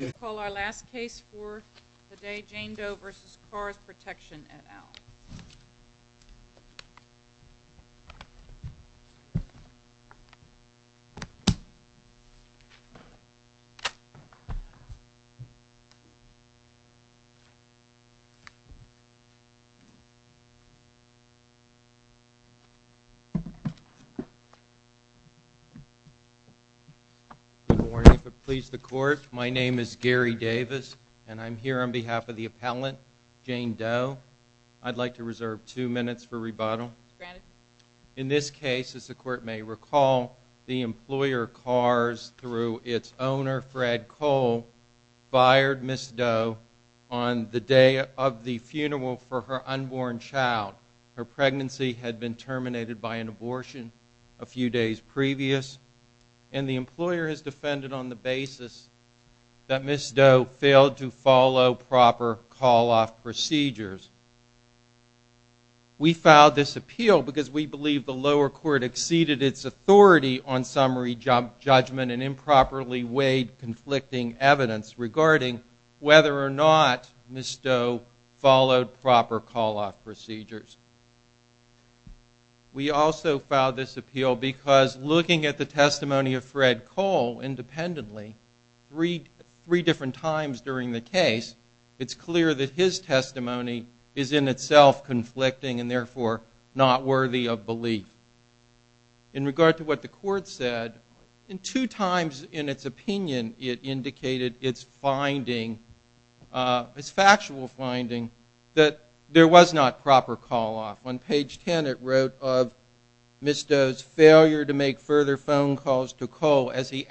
We'll call our last case for the day, Jane Doe v. CARSProtection et al. Good morning, please the Court. My name is Gary Davis, and I'm here on behalf of the appellant, Jane Doe. I'd like to reserve two minutes for rebuttal. In this case, as the Court may recall, the employer, CARS, through its owner, Fred Cole, fired Ms. Doe on the day of the funeral for her unborn child. Her pregnancy had been terminated by an abortion a few days previous, and the employer has We filed this appeal because we believe the lower court exceeded its authority on summary judgment and improperly weighed conflicting evidence regarding whether or not Ms. Doe followed proper call-off procedures. We also filed this appeal because, looking at the testimony of Fred Cole independently, three different times during the case, it's clear that his testimony is in itself conflicting and therefore not worthy of belief. In regard to what the Court said, two times in its opinion it indicated its factual finding that there was not proper call-off. On page 10, it wrote of Ms. Doe's failure to make further phone calls to Cole as he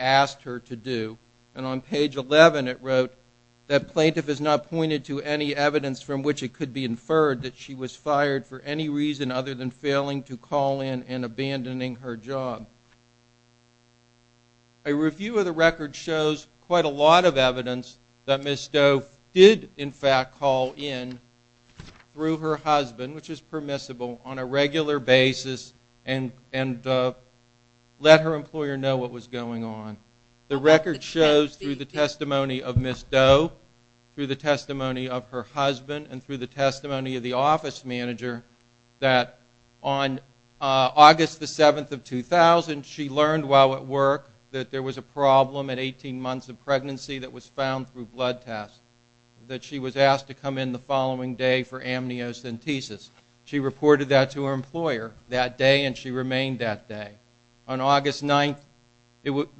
On page 11, it wrote that plaintiff has not pointed to any evidence from which it could be inferred that she was fired for any reason other than failing to call in and abandoning her job. A review of the record shows quite a lot of evidence that Ms. Doe did, in fact, call in through her husband, which is permissible, on a regular basis and let her employer know what was going on. The record shows, through the testimony of Ms. Doe, through the testimony of her husband and through the testimony of the office manager, that on August 7, 2000, she learned while at work that there was a problem at 18 months of pregnancy that was found through blood tests, that she was asked to come in the following day for amniocentesis. She reported that to her employer that day and she remained that day. On August 9,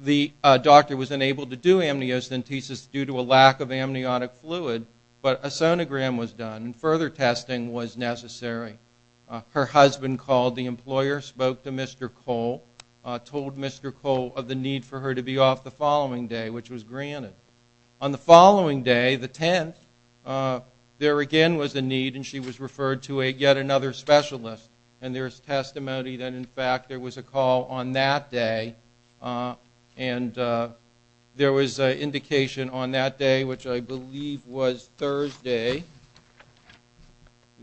the doctor was unable to do amniocentesis due to a lack of amniotic fluid, but a sonogram was done and further testing was necessary. Her husband called the employer, spoke to Mr. Cole, told Mr. Cole of the need for her to be off the following day, which was granted. On the following day, the 10th, there again was a need and she was referred to yet another specialist and there is testimony that, in fact, there was a call on that day and there was an indication on that day, which I believe was Thursday,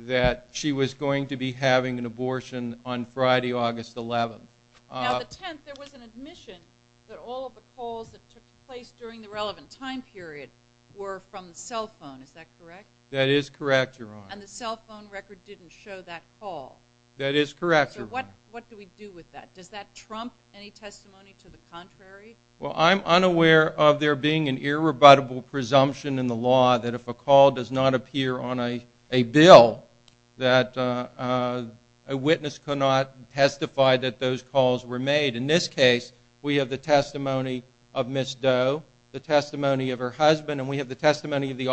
that she was going to be having an abortion on Friday, August 11. Now, the 10th, there was an admission that all of the calls that took place during the relevant time period were from the cell phone, is that correct? That is correct, Your Honor. And the cell phone record didn't show that call? That is correct, Your Honor. So what do we do with that? Does that trump any testimony to the contrary? Well, I'm unaware of there being an irrebuttable presumption in the law that if a call does not appear on a bill, that a witness cannot testify that those calls were made. In this case, we have the testimony of Ms. Doe, the testimony of her husband, and we have the testimony of the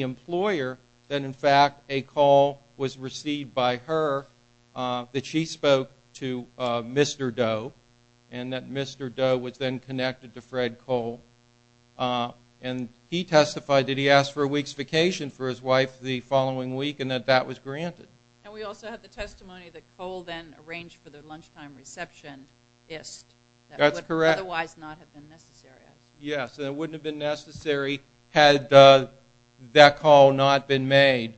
employer that, in fact, a call was received by her that she spoke to Mr. Doe and that Mr. Doe was then connected to Fred Cole and he testified that he asked for a week's vacation for his wife the following week and that that was granted. And we also have the testimony that Cole then arranged for the lunchtime receptionist. That's correct. That would otherwise not have been necessary. Yes. And it wouldn't have been necessary had that call not been made.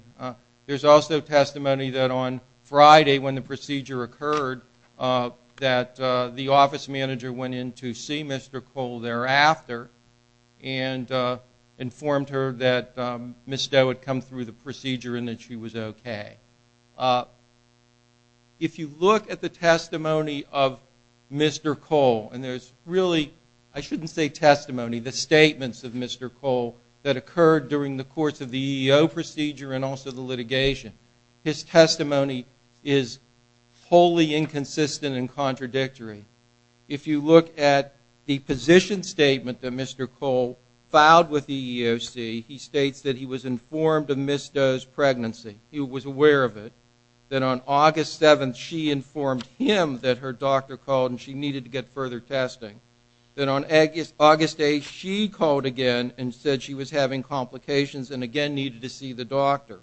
There's also testimony that on Friday when the procedure occurred that the office manager went in to see Mr. Cole thereafter and informed her that Ms. Doe had come through the procedure and that she was okay. If you look at the testimony of Mr. Cole, and there's really, I shouldn't say testimony, the statements of Mr. Cole that occurred during the course of the EEO procedure and also the litigation, his testimony is wholly inconsistent and contradictory. If you look at the position statement that Mr. Cole filed with the EEOC, he states that he was informed of Ms. Doe's pregnancy. He was aware of it. Then on August 7th, she informed him that her doctor called and she needed to get further testing. Then on August 8th, she called again and said she was having complications and again needed to see the doctor.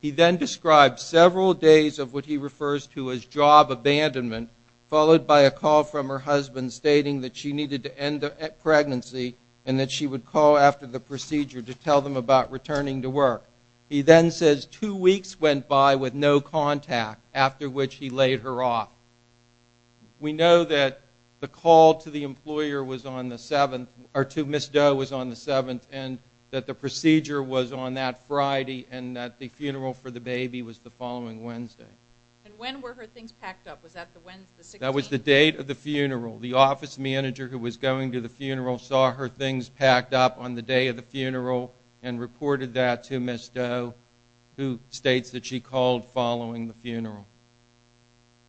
He then described several days of what he refers to as job abandonment, followed by a call from her husband stating that she needed to end the pregnancy and that she would call after the procedure to tell them about returning to work. He then says two weeks went by with no contact, after which he laid her off. We know that the call to the employer was on the 7th, or to Ms. Doe was on the 7th, and that the procedure was on that Friday and that the funeral for the baby was the following Wednesday. And when were her things packed up? Was that the 16th? That was the date of the funeral. The office manager who was going to the funeral saw her things packed up on the day of the funeral, Ms. Doe, who states that she called following the funeral.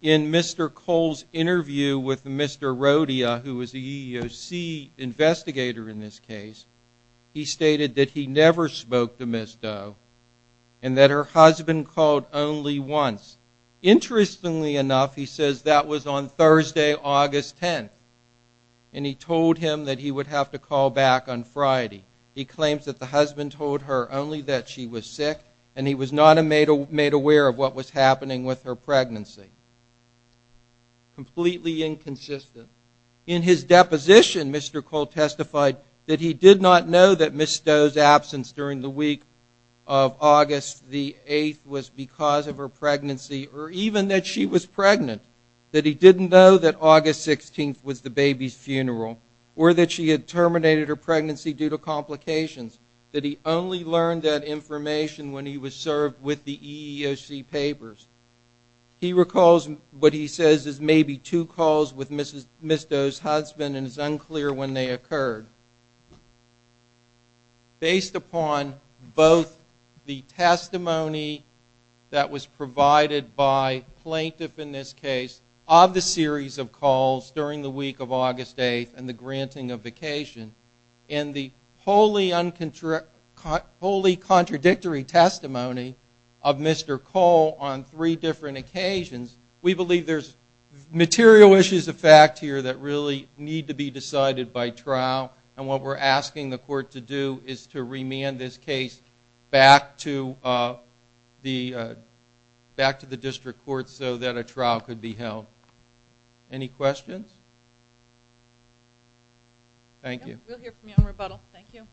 In Mr. Cole's interview with Mr. Rodia, who was the EEOC investigator in this case, he stated that he never spoke to Ms. Doe and that her husband called only once. Interestingly enough, he says that was on Thursday, August 10th, and he told him that he would have to call back on Friday. He claims that the husband told her only that she was sick and he was not made aware of what was happening with her pregnancy. Completely inconsistent. In his deposition, Mr. Cole testified that he did not know that Ms. Doe's absence during the week of August the 8th was because of her pregnancy, or even that she was pregnant, that he didn't know that August 16th was the baby's funeral, or that she had terminated her pregnancy due to complications, that he only learned that information when he was served with the EEOC papers. He recalls what he says is maybe two calls with Ms. Doe's husband and it's unclear when they occurred. Based upon both the testimony that was provided by plaintiff in this case of the series of and the wholly contradictory testimony of Mr. Cole on three different occasions, we believe there's material issues of fact here that really need to be decided by trial and what we're asking the court to do is to remand this case back to the district court so that a trial could be held. Any questions? Thank you. We'll hear from you on rebuttal. Thank you.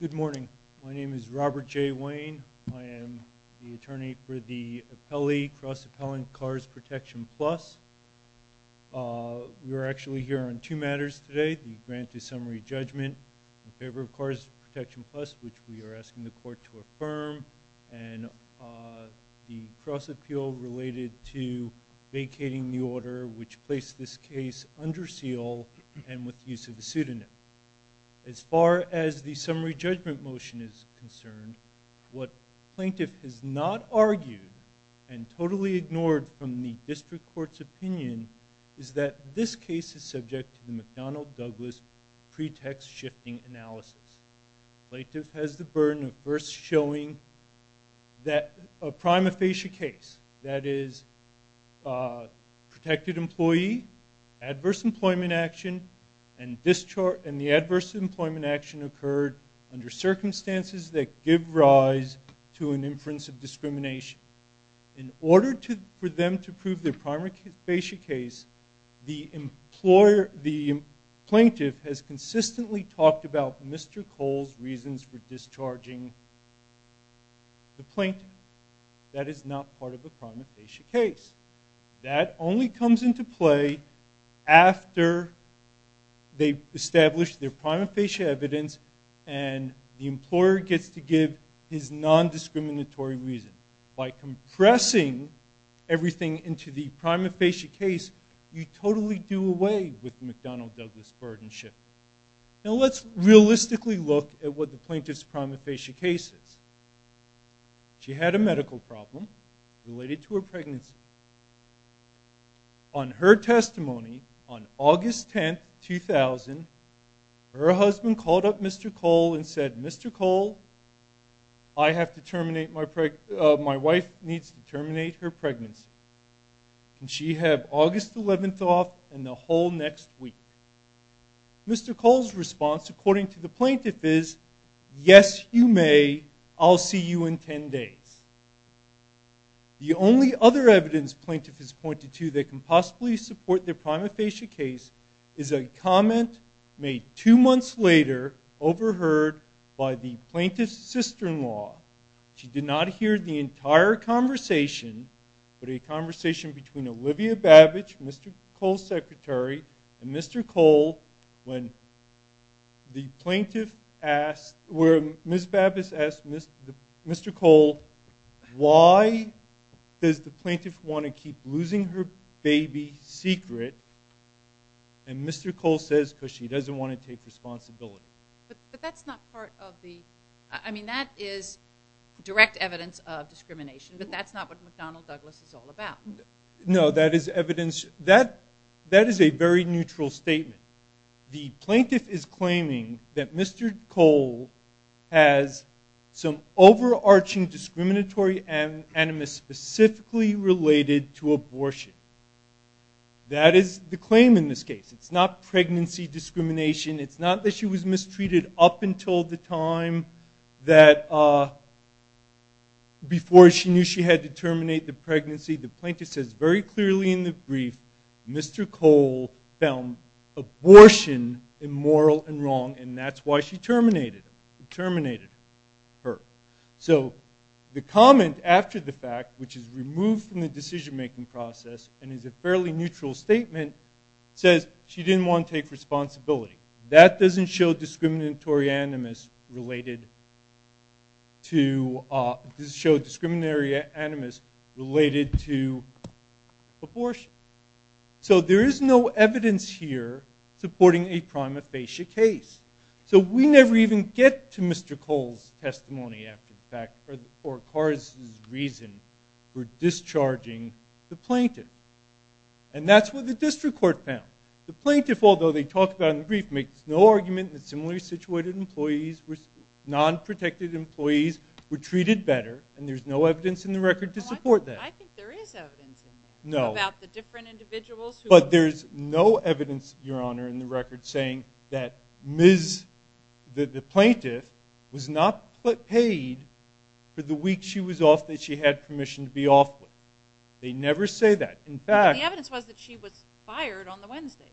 Good morning. My name is Robert J. Wayne. I am the attorney for the cross-appellant CARS Protection Plus. We are actually here on two matters today, the grant to summary judgment in favor of the district court to affirm and the cross-appeal related to vacating the order which placed this case under seal and with use of a pseudonym. As far as the summary judgment motion is concerned, what plaintiff has not argued and totally ignored from the district court's opinion is that this case is subject to the McDonnell Douglas pretext shifting analysis. Plaintiff has the burden of first showing that a prima facie case, that is, protected employee, adverse employment action, and the adverse employment action occurred under circumstances that give rise to an inference of discrimination. In order for them to prove their prima facie case, the plaintiff has consistently talked about Mr. Cole's reasons for discharging the plaintiff. That is not part of a prima facie case. That only comes into play after they've established their prima facie evidence and the employer gets to give his non-discriminatory reason. By compressing everything into the prima facie case, you totally do away with McDonnell Douglas burden shift. Now let's realistically look at what the plaintiff's prima facie case is. She had a medical problem related to her pregnancy. On her testimony on August 10, 2000, her husband called up Mr. Cole and said, Mr. Cole, my wife needs to terminate her pregnancy. Can she have August 11th off and the whole next week? Mr. Cole's response according to the plaintiff is, yes, you may. I'll see you in 10 days. The only other evidence plaintiff has pointed to that can possibly support their prima facie case is a comment made two months later, overheard by the plaintiff's sister-in-law. She did not hear the entire conversation, but a conversation between Olivia Babbage, Mr. Cole's secretary, and Mr. Cole, where Ms. Babbage asked Mr. Cole, why does the plaintiff want to keep losing her baby secret? And Mr. Cole says, because she doesn't want to take responsibility. But that's not part of the – I mean, that is direct evidence of discrimination, but that's not what McDonnell Douglas is all about. No, that is evidence – that is a very neutral statement. The plaintiff is claiming that Mr. Cole has some overarching discriminatory animus specifically related to abortion. That is the claim in this case. It's not pregnancy discrimination. It's not that she was mistreated up until the time that – before she knew she had to terminate the pregnancy. The plaintiff says very clearly in the brief, Mr. Cole found abortion immoral and wrong, and that's why she terminated her. So the comment after the fact, which is removed from the decision-making process and is a fairly neutral statement, says she didn't want to take responsibility. That doesn't show discriminatory animus related to – doesn't show discriminatory animus related to abortion. So there is no evidence here supporting a prima facie case. So we never even get to Mr. Cole's testimony after the fact or Carr's reason for discharging the plaintiff. And that's what the district court found. The plaintiff, although they talk about it in the brief, makes no argument that similarly situated employees, non-protected employees, were treated better, and there's no evidence in the record to support that. I think there is evidence in there about the different individuals who – But there's no evidence, Your Honor, in the record saying that Ms. – that the plaintiff was not paid for the week she was off that she had permission to be off with. They never say that. In fact – The evidence was that she was fired on the Wednesday.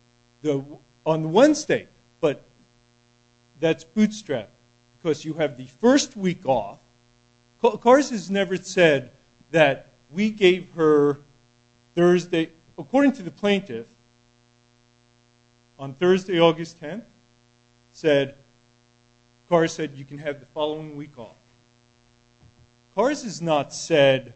On the Wednesday, but that's bootstrap because you have the first week off. Carr's has never said that we gave her Thursday – Carr said you can have the following week off. Carr's has not said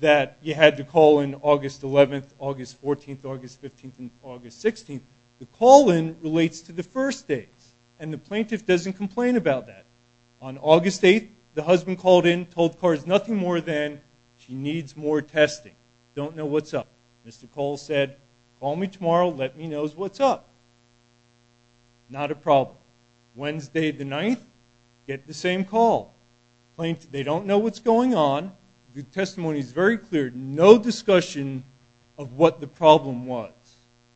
that you had to call in August 11th, August 14th, August 15th, and August 16th. The call-in relates to the first days, and the plaintiff doesn't complain about that. On August 8th, the husband called in, told Carr it's nothing more than she needs more testing. Don't know what's up. Mr. Cole said, call me tomorrow, let me know what's up. Not a problem. Wednesday the 9th, get the same call. Plaintiff, they don't know what's going on. The testimony is very clear. No discussion of what the problem was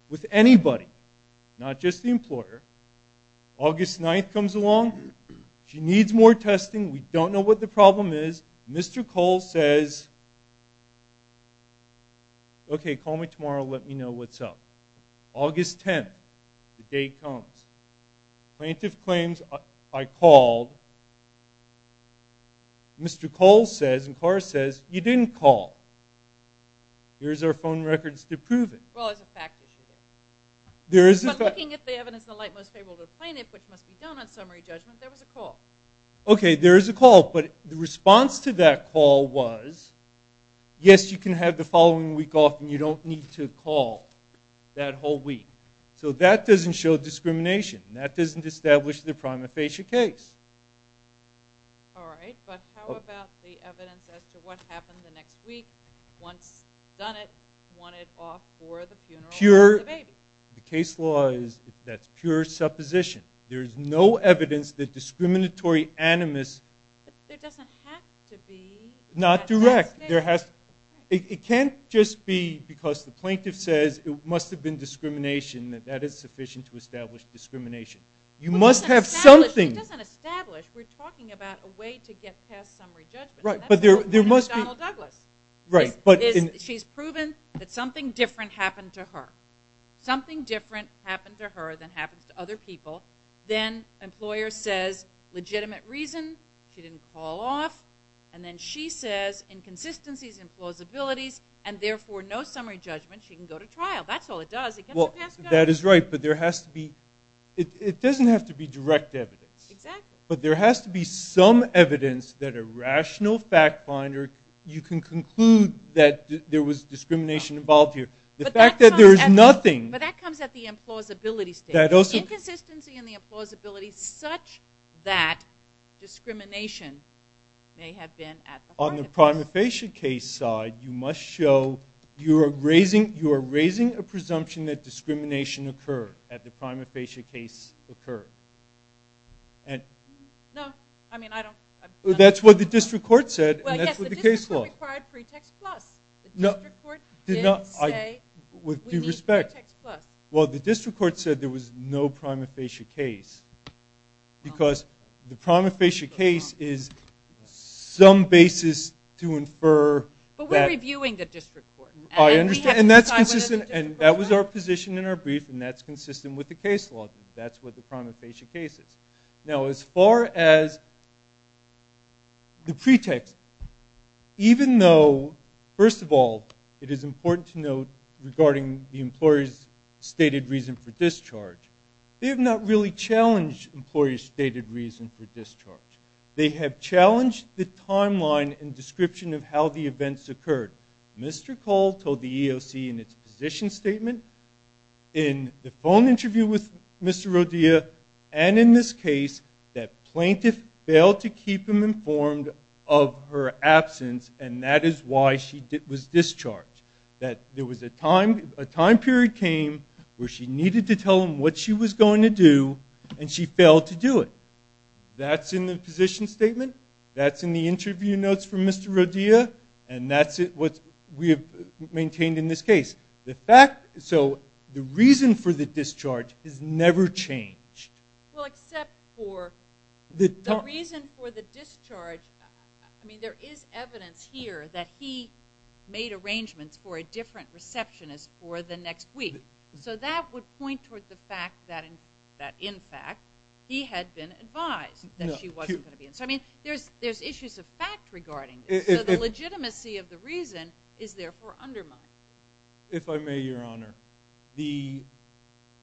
with anybody. Not just the employer. August 9th comes along. She needs more testing. We don't know what the problem is. Mr. Cole says, okay, call me tomorrow, let me know what's up. August 10th, the day comes. Plaintiff claims I called. Mr. Cole says, and Carr says, you didn't call. Here's our phone records to prove it. Well, it's a fact issue. Looking at the evidence in the light most favorable to the plaintiff, which must be done on summary judgment, there was a call. Okay, there is a call, but the response to that call was, yes, you can have the following week off and you don't need to call that whole week. So that doesn't show discrimination. That doesn't establish the prima facie case. All right, but how about the evidence as to what happened the next week? Once done it, wanted off for the funeral of the baby. The case law is that's pure supposition. There is no evidence that discriminatory animus. But there doesn't have to be. Not direct. It can't just be because the plaintiff says it must have been discrimination, that that is sufficient to establish discrimination. You must have something. It doesn't establish. We're talking about a way to get past summary judgment. Right, but there must be. That's what happened to Donald Douglas. Right. She's proven that something different happened to her. Something different happened to her than happens to other people. Then employer says legitimate reason, she didn't call off. And then she says inconsistencies, implausibilities, and therefore no summary judgment. She can go to trial. That's all it does. It gets her passed out. That is right, but there has to be. It doesn't have to be direct evidence. Exactly. But there has to be some evidence that a rational fact finder, you can conclude that there was discrimination involved here. The fact that there is nothing. But that comes at the implausibility stage. Inconsistency and the implausibility such that discrimination may have been at the heart of this. On the prima facie case side, you must show you are raising a presumption that discrimination occurred at the prima facie case occurred. No, I mean, I don't. That's what the district court said, and that's what the case law. Well, yes, the district court required pretext plus. The district court did say we need pretext plus. Well, the district court said there was no prima facie case because the prima facie case is some basis to infer. But we're reviewing the district court. I understand, and that's consistent, and that was our position in our brief, and that's consistent with the case law. That's what the prima facie case is. Now, as far as the pretext, even though, first of all, it is important to note regarding the employer's stated reason for discharge, they have not really challenged employer's stated reason for discharge. They have challenged the timeline and description of how the events occurred. Mr. Cole told the EEOC in its position statement, in the phone interview with Mr. Rodilla, and in this case, that plaintiff failed to keep him informed of her absence, and that is why she was discharged. That there was a time period came where she needed to tell him what she was going to do, and she failed to do it. That's in the position statement. That's in the interview notes from Mr. Rodilla, and that's what we have maintained in this case. So the reason for the discharge has never changed. Well, except for the reason for the discharge, I mean, there is evidence here that he made arrangements for a different receptionist for the next week. So that would point toward the fact that, in fact, he had been advised that she wasn't going to be in. So, I mean, there's issues of fact regarding this, so the legitimacy of the reason is therefore undermined. If I may, Your Honor, the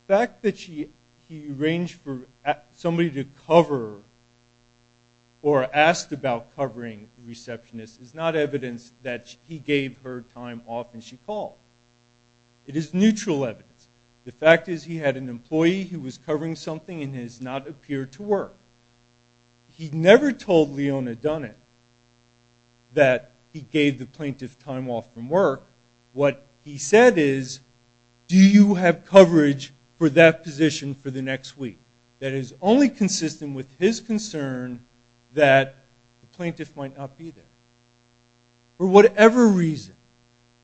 fact that he arranged for somebody to cover or asked about covering the receptionist is not evidence that he gave her time off and she called. It is neutral evidence. The fact is he had an employee who was covering something and has not appeared to work. He never told Leona Dunnett that he gave the plaintiff time off from work. What he said is, do you have coverage for that position for the next week? That is only consistent with his concern that the plaintiff might not be there. For whatever reason,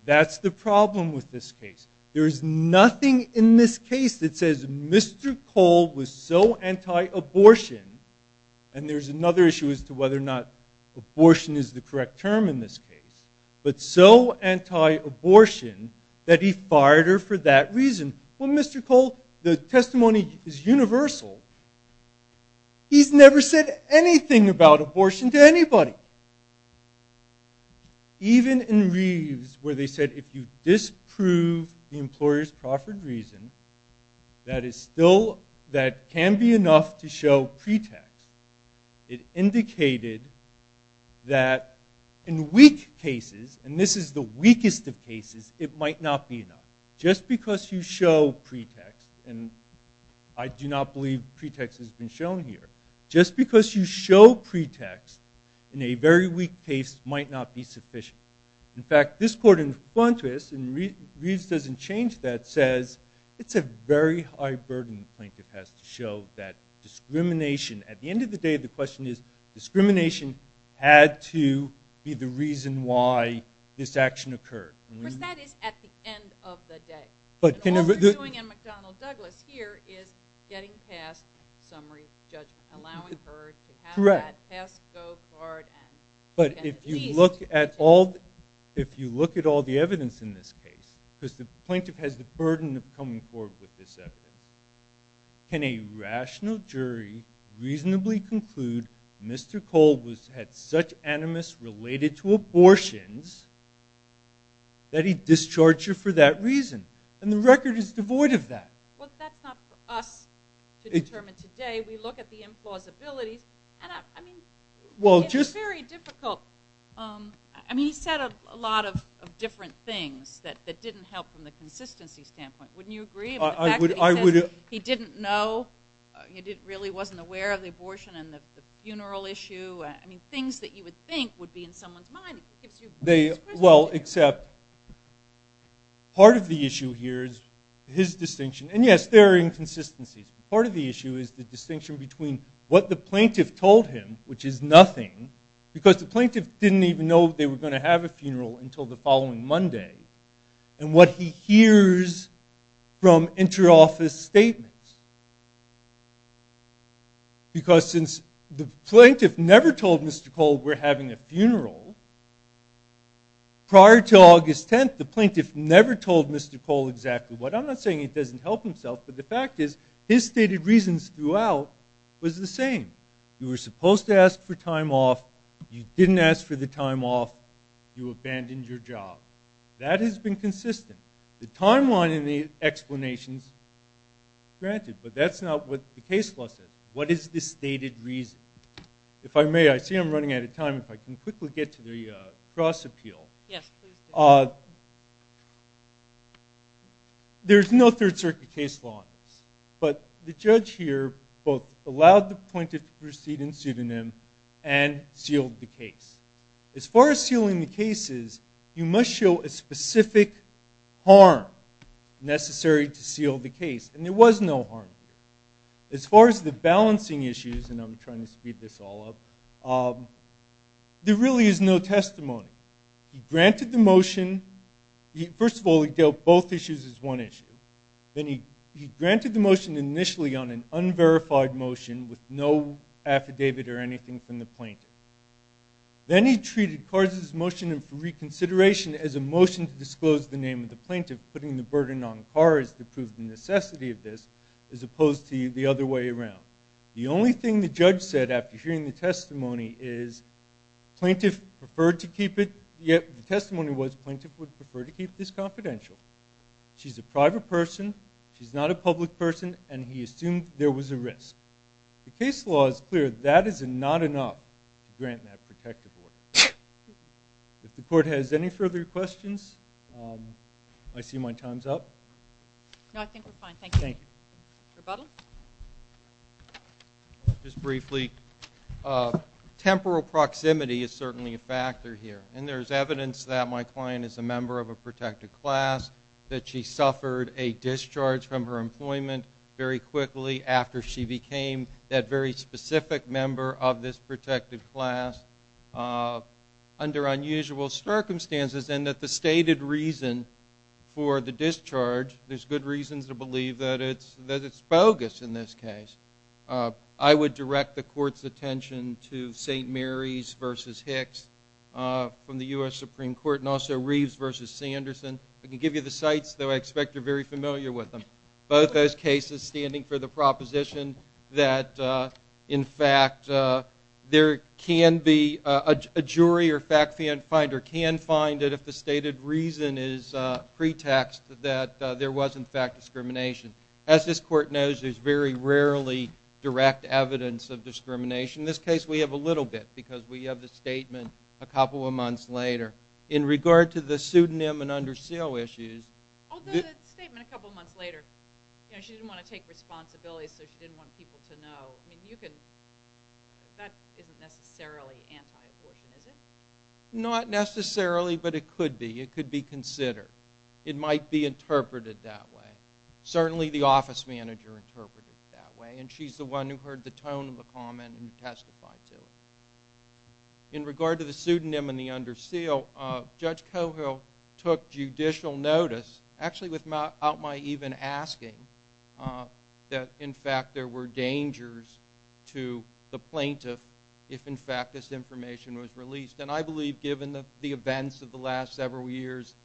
that's the problem with this case. There is nothing in this case that says Mr. Cole was so anti-abortion, and there's another issue as to whether or not abortion is the correct term in this case, but so anti-abortion that he fired her for that reason. Well, Mr. Cole, the testimony is universal. He's never said anything about abortion to anybody. Even in Reeves, where they said if you disprove the employer's proffered reason, that can be enough to show pretext. It indicated that in weak cases, and this is the weakest of cases, it might not be enough. Just because you show pretext, and I do not believe pretext has been shown here, just because you show pretext in a very weak case might not be sufficient. In fact, this court in front of us, and Reeves doesn't change that, says it's a very high burden the plaintiff has to show that discrimination, at the end of the day the question is, discrimination had to be the reason why this action occurred. Of course, that is at the end of the day. All you're doing in McDonnell-Douglas here is getting past summary judgment, allowing her to have that pass, go, card. But if you look at all the evidence in this case, because the plaintiff has the burden of coming forward with this evidence, can a rational jury reasonably conclude Mr. Cole had such animus related to abortions that he discharged her for that reason? And the record is devoid of that. Well, that's not for us to determine today. We look at the implausibilities. I mean, it's very difficult. I mean, he said a lot of different things that didn't help from the consistency standpoint. Wouldn't you agree? I would. He didn't know. He really wasn't aware of the abortion and the funeral issue. I mean, things that you would think would be in someone's mind. Well, except part of the issue here is his distinction. And, yes, there are inconsistencies. Part of the issue is the distinction between what the plaintiff told him, which is nothing, because the plaintiff didn't even know they were going to have a funeral until the following Monday, and what he hears from interoffice statements. Because since the plaintiff never told Mr. Cole we're having a funeral, prior to August 10th, the plaintiff never told Mr. Cole exactly what. I'm not saying it doesn't help himself, but the fact is his stated reasons throughout was the same. You were supposed to ask for time off. You didn't ask for the time off. You abandoned your job. That has been consistent. The timeline in the explanation is granted, but that's not what the case law says. What is the stated reason? If I may, I see I'm running out of time. If I can quickly get to the cross-appeal. Yes, please do. There's no Third Circuit case law on this, but the judge here both allowed the plaintiff to proceed in pseudonym and sealed the case. As far as sealing the cases, you must show a specific harm necessary to seal the case, and there was no harm here. As far as the balancing issues, and I'm trying to speed this all up, there really is no testimony. He granted the motion. First of all, he dealt both issues as one issue. Then he granted the motion initially on an unverified motion with no affidavit or anything from the plaintiff. Then he treated Kars' motion for reconsideration as a motion to disclose the name of the plaintiff, putting the burden on Kars to prove the necessity of this, as opposed to the other way around. The only thing the judge said after hearing the testimony is plaintiff preferred to keep it, yet the testimony was plaintiff would prefer to keep this confidential. She's a private person, she's not a public person, and he assumed there was a risk. The case law is clear that is not enough to grant that protective order. If the court has any further questions, I see my time's up. No, I think we're fine. Thank you. Thank you. Rebuttal? Just briefly, temporal proximity is certainly a factor here, and there's evidence that my client is a member of a protected class, that she suffered a discharge from her employment very quickly after she became that very specific member of this protected class under unusual circumstances, and that the stated reason for the discharge, there's good reasons to believe that it's bogus in this case. I would direct the court's attention to St. Mary's v. Hicks from the U.S. Supreme Court and also Reeves v. Sanderson. I can give you the sites, though I expect you're very familiar with them. Both those cases standing for the proposition that, in fact, there can be a jury or fact finder can find it if the stated reason is pretext that there was, in fact, discrimination. As this court knows, there's very rarely direct evidence of discrimination. In this case, we have a little bit because we have the statement a couple of months later. In regard to the pseudonym and under seal issues... Although the statement a couple of months later, she didn't want to take responsibility, so she didn't want people to know. That isn't necessarily anti-abortion, is it? Not necessarily, but it could be. It could be considered. It might be interpreted that way. Certainly the office manager interpreted it that way, and she's the one who heard the tone of the comment and testified to it. In regard to the pseudonym and the under seal, Judge Cogill took judicial notice, actually without my even asking, that, in fact, there were dangers to the plaintiff if, in fact, this information was released. I believe, given the events of the last several years,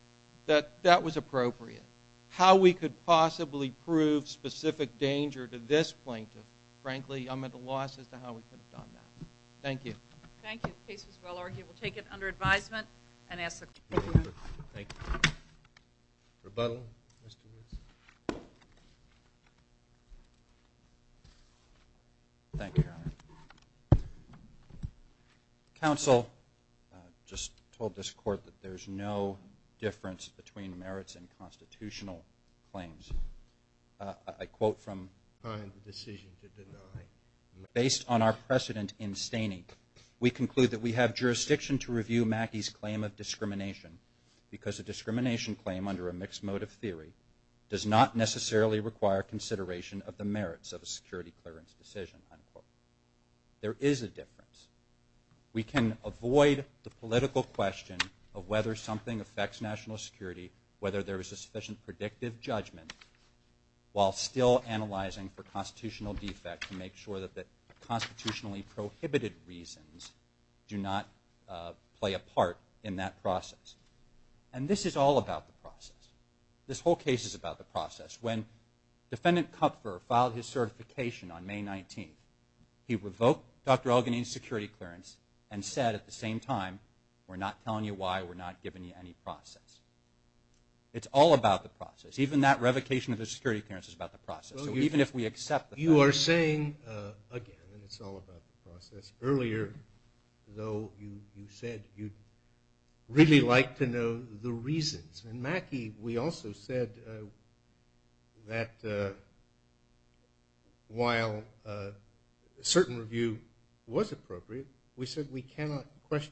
that that was appropriate. How we could possibly prove specific danger to this plaintiff, frankly, I'm at a loss as to how we could have done that. Thank you. Thank you. The case was well argued. We'll take it under advisement and ask the court to move it. Thank you. Rebuttal. Mr. Williams. Thank you, Your Honor. Counsel just told this court that there's no difference between merits and constitutional claims. I quote from the decision to deny. Based on our precedent in staining, we conclude that we have jurisdiction to review Mackey's claim of discrimination because a discrimination claim under a mixed motive theory does not necessarily require consideration of the merits of a security clearance decision. There is a difference. We can avoid the political question of whether something affects national security, whether there is a sufficient predictive judgment, while still analyzing for constitutional defect to make sure that the constitutionally prohibited reasons do not play a part in that process. And this is all about the process. This whole case is about the process. When Defendant Kupfer filed his certification on May 19th, he revoked Dr. Elgin's security clearance and said at the same time, we're not telling you why, we're not giving you any process. It's all about the process. Even that revocation of the security clearance is about the process. So even if we accept the process. You are saying, again, it's all about the process. Earlier, though, you said you'd really like to know the reasons. Mackie, we also said that while a certain review was appropriate, we said we cannot question that.